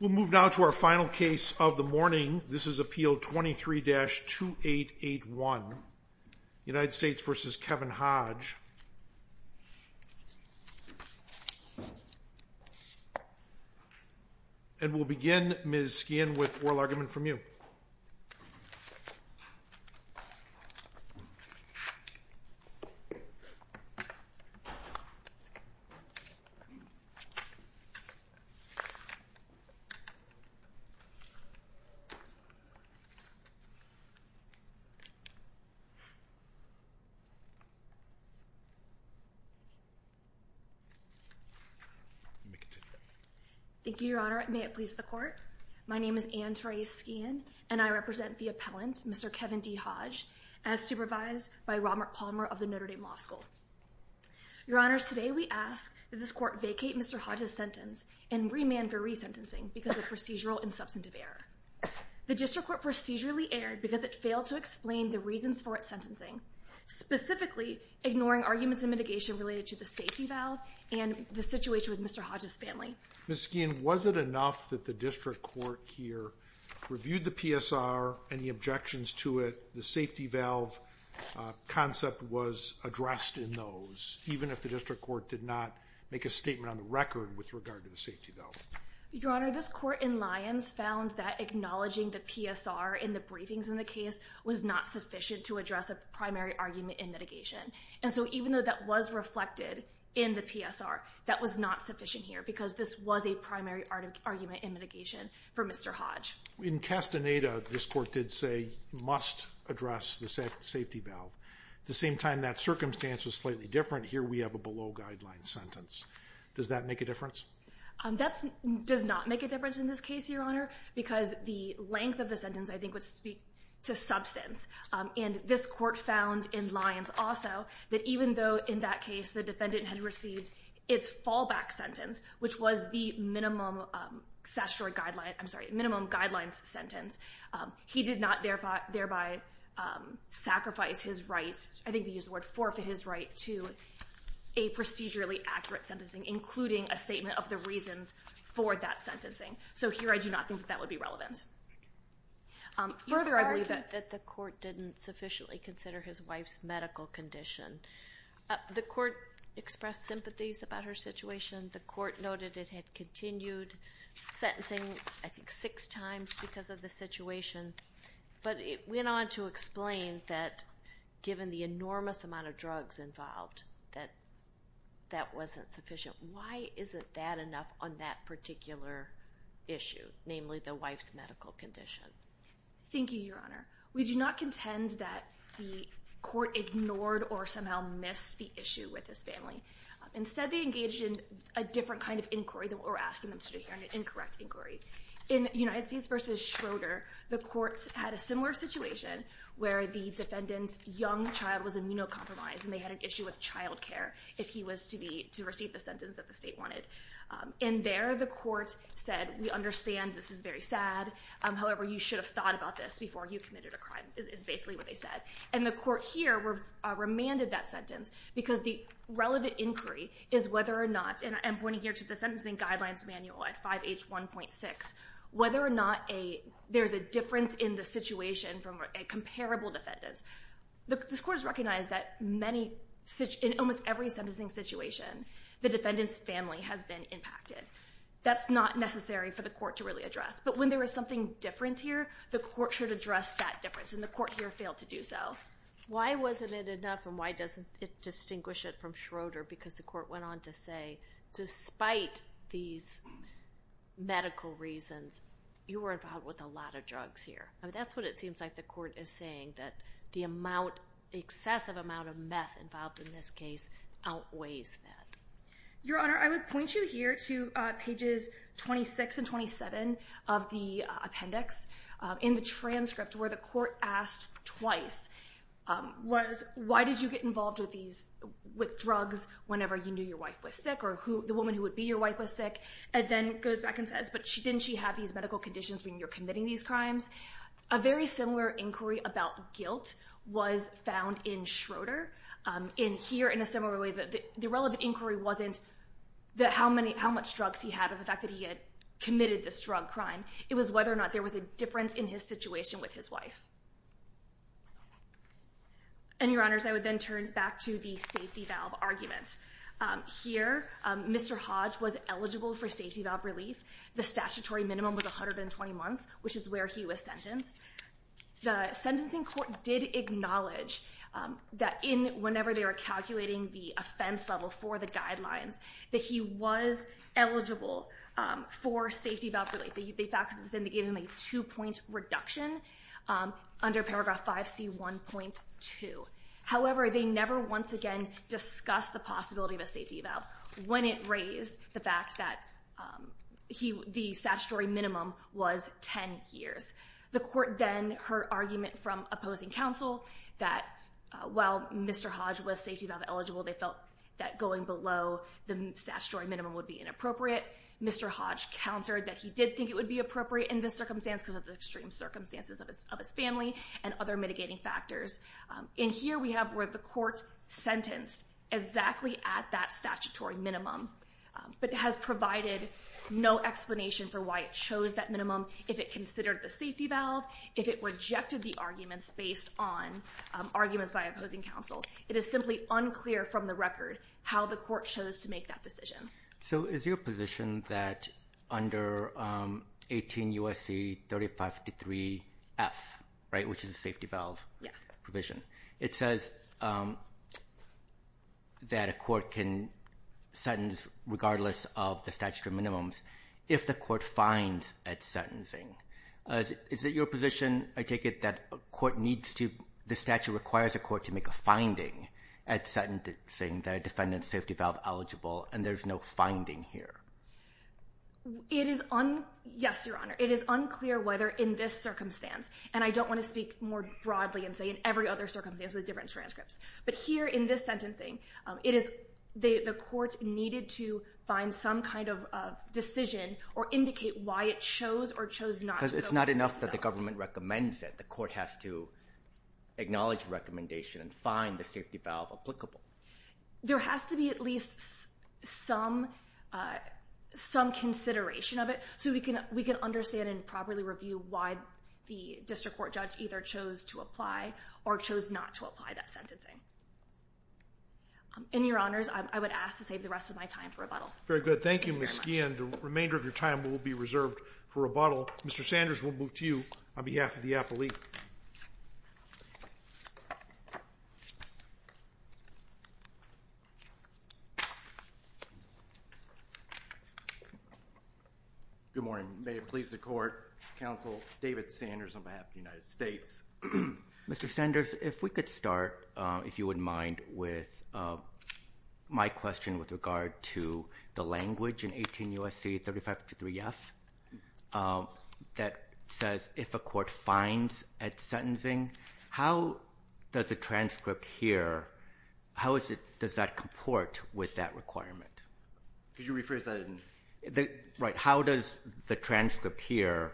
We'll move now to our final case of the morning. This is Appeal 23-2881, United States v. Kevin Hodge. And we'll begin, Ms. Skehan, with oral argument from you. Thank you, Your Honor. May it please the Court. My name is Anne Therese Skehan, and I represent the appellant, Mr. Kevin D. Hodge, as supervised by Robert Palmer of the Notre Dame Law School. Your Honors, today we ask that this Court vacate Mr. Hodge's sentence and remand for resentencing because of procedural and substantive error. The District Court procedurally erred because it failed to explain the reasons for its sentencing, specifically ignoring arguments in mitigation related to the safety valve and the situation with Mr. Hodge's family. Ms. Skehan, was it enough that the District Court here reviewed the PSR and the objections to it, the safety valve concept was addressed in those, even if the District Court did not make a statement on the record with regard to the safety valve? Your Honor, this Court in Lyons found that acknowledging the PSR in the briefings in the case was not sufficient to address a primary argument in mitigation. And so even though that was reflected in the PSR, that was not sufficient here because this was a primary argument in mitigation for Mr. Hodge. In Castaneda, this Court did say, must address the safety valve. At the same time, that circumstance was slightly different. Here we have a below-guideline sentence. Does that make a difference? That does not make a difference in this case, Your Honor, because the length of the sentence I think would speak to substance. And this Court found in Lyons also that even though in that case the defendant had received its fallback sentence, which was the minimum statutory guideline, I'm sorry, minimum guidelines sentence, he did not thereby sacrifice his right, I think they used the word forfeit his right, to a procedurally accurate sentencing, including a statement of the reasons for that sentencing. So here I do not think that would be relevant. You argued that the Court didn't sufficiently consider his wife's medical condition. The Court expressed sympathies about her situation. The Court noted it had continued sentencing I think six times because of the situation. But it went on to explain that given the enormous amount of drugs involved, that that wasn't sufficient. Why isn't that enough on that particular issue, namely the wife's medical condition? Thank you, Your Honor. We do not contend that the Court ignored or somehow missed the issue with his family. Instead, they engaged in a different kind of inquiry than what we're asking them to do here, an incorrect inquiry. In United States v. Schroeder, the Court had a similar situation where the defendant's young child was immunocompromised and they had an issue with childcare if he was to receive the sentence that the state wanted. In there, the Court said, we understand this is very sad. However, you should have thought about this before you committed a crime, is basically what they said. And the Court here remanded that sentence because the relevant inquiry is whether or not, and I'm pointing here to the Sentencing Guidelines Manual at 5H1.6, whether or not there's a difference in the situation from a comparable defendant. This Court has recognized that in almost every sentencing situation, the defendant's family has been impacted. That's not necessary for the Court to really address. But when there is something different here, the Court should address that difference, and the Court here failed to do so. Why wasn't it enough, and why doesn't it distinguish it from Schroeder? Because the Court went on to say, despite these medical reasons, you were involved with a lot of drugs here. That's what it seems like the Court is saying, that the excessive amount of meth involved in this case outweighs that. Your Honor, I would point you here to pages 26 and 27 of the appendix in the transcript where the Court asked twice, why did you get involved with drugs whenever you knew your wife was sick, or the woman who would be your wife was sick, and then goes back and says, but didn't she have these medical conditions when you're committing these crimes? A very similar inquiry about guilt was found in Schroeder. Here, in a similar way, the relevant inquiry wasn't how much drugs he had or the fact that he had committed this drug crime. It was whether or not there was a difference in his situation with his wife. And, Your Honors, I would then turn back to the safety valve argument. Here, Mr. Hodge was eligible for safety valve relief. The statutory minimum was 120 months, which is where he was sentenced. The sentencing court did acknowledge that, whenever they were calculating the offense level for the guidelines, that he was eligible for safety valve relief. They factored this in. They gave him a two-point reduction under paragraph 5C1.2. However, they never once again discussed the possibility of a safety valve, when it raised the fact that the statutory minimum was 10 years. The court then heard argument from opposing counsel that, while Mr. Hodge was safety valve eligible, they felt that going below the statutory minimum would be inappropriate. Mr. Hodge countered that he did think it would be appropriate in this circumstance because of the extreme circumstances of his family and other mitigating factors. And here we have where the court sentenced exactly at that statutory minimum, but has provided no explanation for why it chose that minimum, if it considered the safety valve, if it rejected the arguments based on arguments by opposing counsel. It is simply unclear from the record how the court chose to make that decision. So is your position that under 18 U.S.C. 3553F, which is a safety valve provision, it says that a court can sentence regardless of the statutory minimums if the court finds it sentencing? Is it your position, I take it, that the statute requires a court to make a finding at sentencing that a defendant's safety valve eligible and there's no finding here? It is unclear whether in this circumstance, and I don't want to speak more broadly and say in every other circumstance with different transcripts, but here in this sentencing the court needed to find some kind of decision or indicate why it chose or chose not to go below the statutory minimum. Because it's not enough that the government recommends it. The court has to acknowledge recommendation and find the safety valve applicable. There has to be at least some consideration of it so we can understand and properly review why the district court judge either chose to apply or chose not to apply that sentencing. In your honors, I would ask to save the rest of my time for rebuttal. Very good. Thank you, Ms. Skehan. The remainder of your time will be reserved for rebuttal. Mr. Sanders, we'll move to you on behalf of the appellee. Good morning. May it please the court, Counsel David Sanders on behalf of the United States. Mr. Sanders, if we could start, if you wouldn't mind, with my question with regard to the language in 18 U.S.C. 3553F. That says if a court finds at sentencing, how does the transcript here, how does that comport with that requirement? Could you rephrase that? Right. How does the transcript here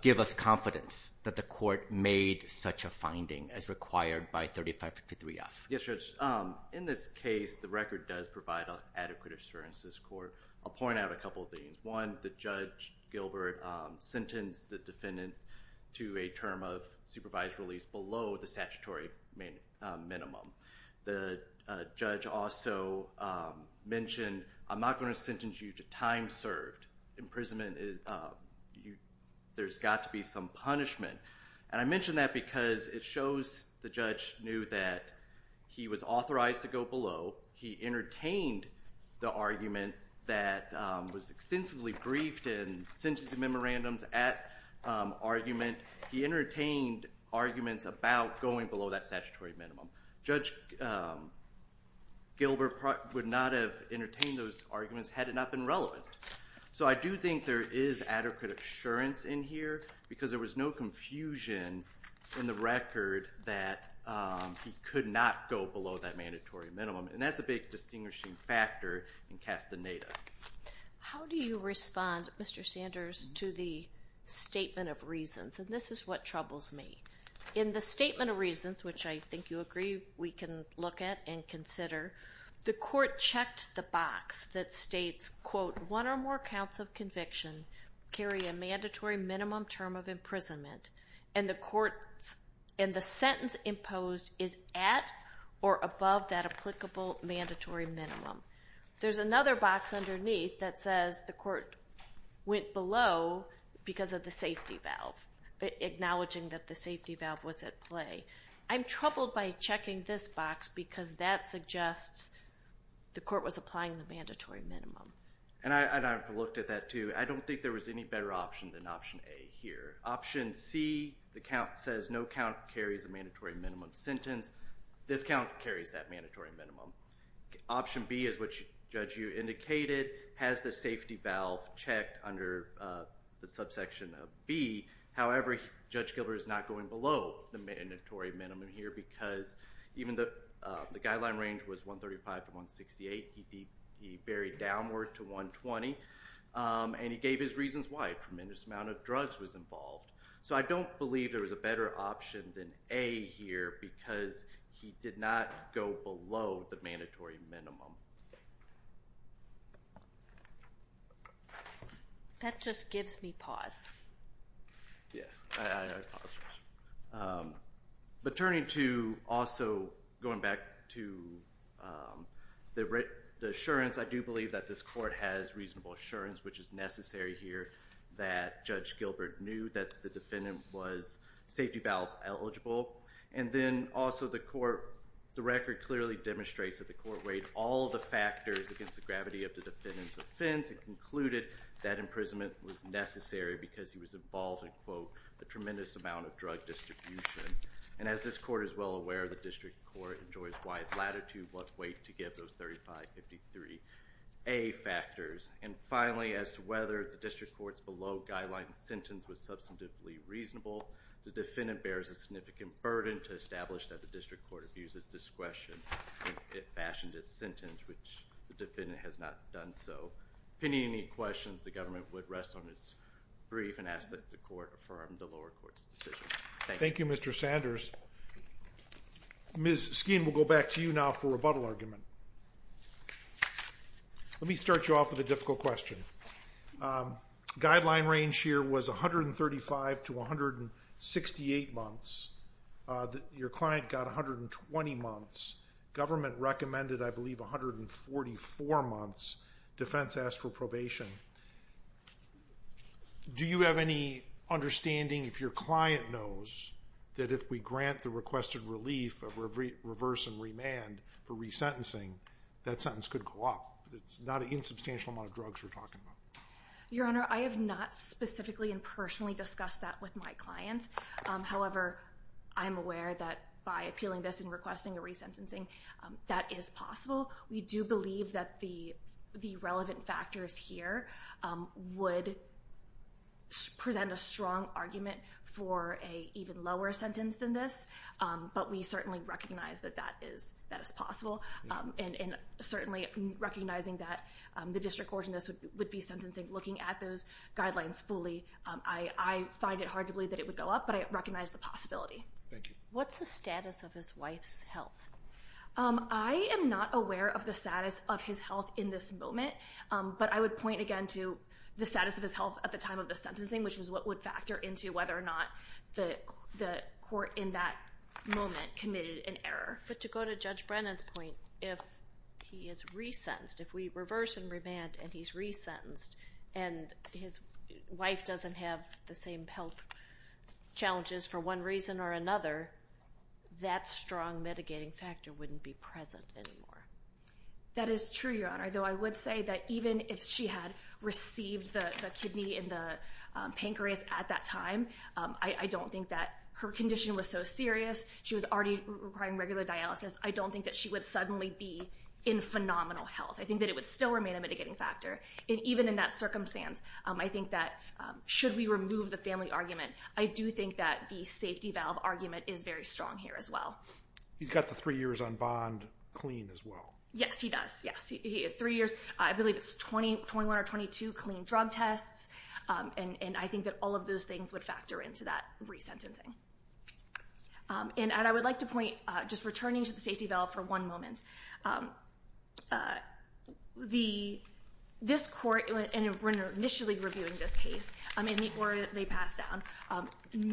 give us confidence that the court made such a finding as required by 3553F? Yes, Judge. In this case, the record does provide an adequate assurance to this court. I'll point out a couple of things. One, that Judge Gilbert sentenced the defendant to a term of supervised release below the statutory minimum. The judge also mentioned, I'm not going to sentence you to time served. Imprisonment is, there's got to be some punishment. And I mention that because it shows the judge knew that he was authorized to go below. He entertained the argument that was extensively briefed in sentencing memorandums at argument. He entertained arguments about going below that statutory minimum. Judge Gilbert would not have entertained those arguments had it not been relevant. So I do think there is adequate assurance in here because there was no confusion in the record that he could not go below that mandatory minimum. And that's a big distinguishing factor in Castaneda. How do you respond, Mr. Sanders, to the statement of reasons? And this is what troubles me. In the statement of reasons, which I think you agree we can look at and consider, the court checked the box that states, quote, and the sentence imposed is at or above that applicable mandatory minimum. There's another box underneath that says the court went below because of the safety valve, acknowledging that the safety valve was at play. I'm troubled by checking this box because that suggests the court was applying the mandatory minimum. And I've looked at that too. I don't think there was any better option than option A here. Option C, the count says no count carries a mandatory minimum sentence. This count carries that mandatory minimum. Option B is what, Judge, you indicated, has the safety valve checked under the subsection of B. However, Judge Gilbert is not going below the mandatory minimum here because even though the guideline range was 135 to 168, he buried downward to 120. And he gave his reasons why a tremendous amount of drugs was involved. So I don't believe there was a better option than A here because he did not go below the mandatory minimum. That just gives me pause. Yes, I paused. But turning to also going back to the assurance, I do believe that this court has reasonable assurance, which is necessary here that Judge Gilbert knew that the defendant was safety valve eligible. And then also the record clearly demonstrates that the court weighed all the factors against the gravity of the defendant's offense and concluded that imprisonment was necessary because he was involved in, quote, a tremendous amount of drug distribution. And as this court is well aware, the district court enjoys wide latitude what weight to give those 3553A factors. And finally, as to whether the district court's below guideline sentence was substantively reasonable, the defendant bears a significant burden to establish that the district court abuses discretion if it fashioned its sentence, which the defendant has not done so. If you have any questions, the government would rest on its brief and ask that the court affirm the lower court's decision. Thank you. Thank you, Mr. Sanders. Ms. Skehan, we'll go back to you now for a rebuttal argument. Let me start you off with a difficult question. Guideline range here was 135 to 168 months. Your client got 120 months. Government recommended, I believe, 144 months. Defense asked for probation. Do you have any understanding, if your client knows, that if we grant the requested relief of reverse and remand for resentencing, that sentence could go up? It's not an insubstantial amount of drugs we're talking about. Your Honor, I have not specifically and personally discussed that with my client. However, I am aware that by appealing this and requesting a resentencing, that is possible. We do believe that the relevant factors here would present a strong argument for an even lower sentence than this, but we certainly recognize that that is possible. And certainly recognizing that the district court in this would be sentencing, looking at those guidelines fully, I find it hard to believe that it would go up, but I recognize the possibility. Thank you. What's the status of his wife's health? I am not aware of the status of his health in this moment, but I would point again to the status of his health at the time of the sentencing, which is what would factor into whether or not the court in that moment committed an error. But to go to Judge Brennan's point, if he is resentenced, if we reverse and remand and he's resentenced and his wife doesn't have the same health challenges for one reason or another, that strong mitigating factor wouldn't be present anymore. That is true, Your Honor, though I would say that even if she had received the kidney and the pancreas at that time, I don't think that her condition was so serious. She was already requiring regular dialysis. I don't think that she would suddenly be in phenomenal health. I think that it would still remain a mitigating factor. And even in that circumstance, I think that should we remove the family argument, I do think that the safety valve argument is very strong here as well. He's got the three years on bond clean as well. Yes, he does. Yes, three years. I believe it's 21 or 22 clean drug tests. And I think that all of those things would factor into that resentencing. And I would like to point, just returning to the safety valve for one moment, this court, and we're initially reviewing this case in the order that they passed down,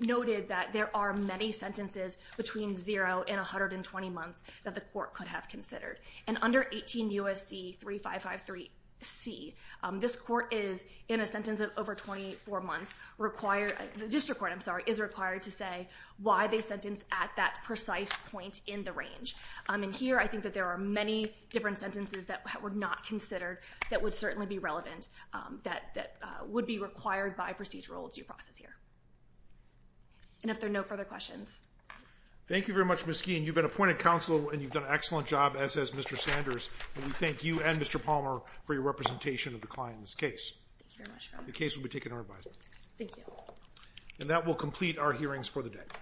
noted that there are many sentences between zero and 120 months that the court could have considered. And under 18 U.S.C. 3553C, this court is, in a sentence of over 24 months, required, the district court, I'm sorry, is required to say why they sentenced at that precise point in the range. And here I think that there are many different sentences that were not considered that would certainly be relevant that would be required by procedural due process here. And if there are no further questions. Thank you very much, Ms. Keene. Ms. Keene, you've been appointed counsel and you've done an excellent job, as has Mr. Sanders. And we thank you and Mr. Palmer for your representation of the client in this case. Thank you very much, Your Honor. The case will be taken over by them. Thank you. And that will complete our hearings for the day.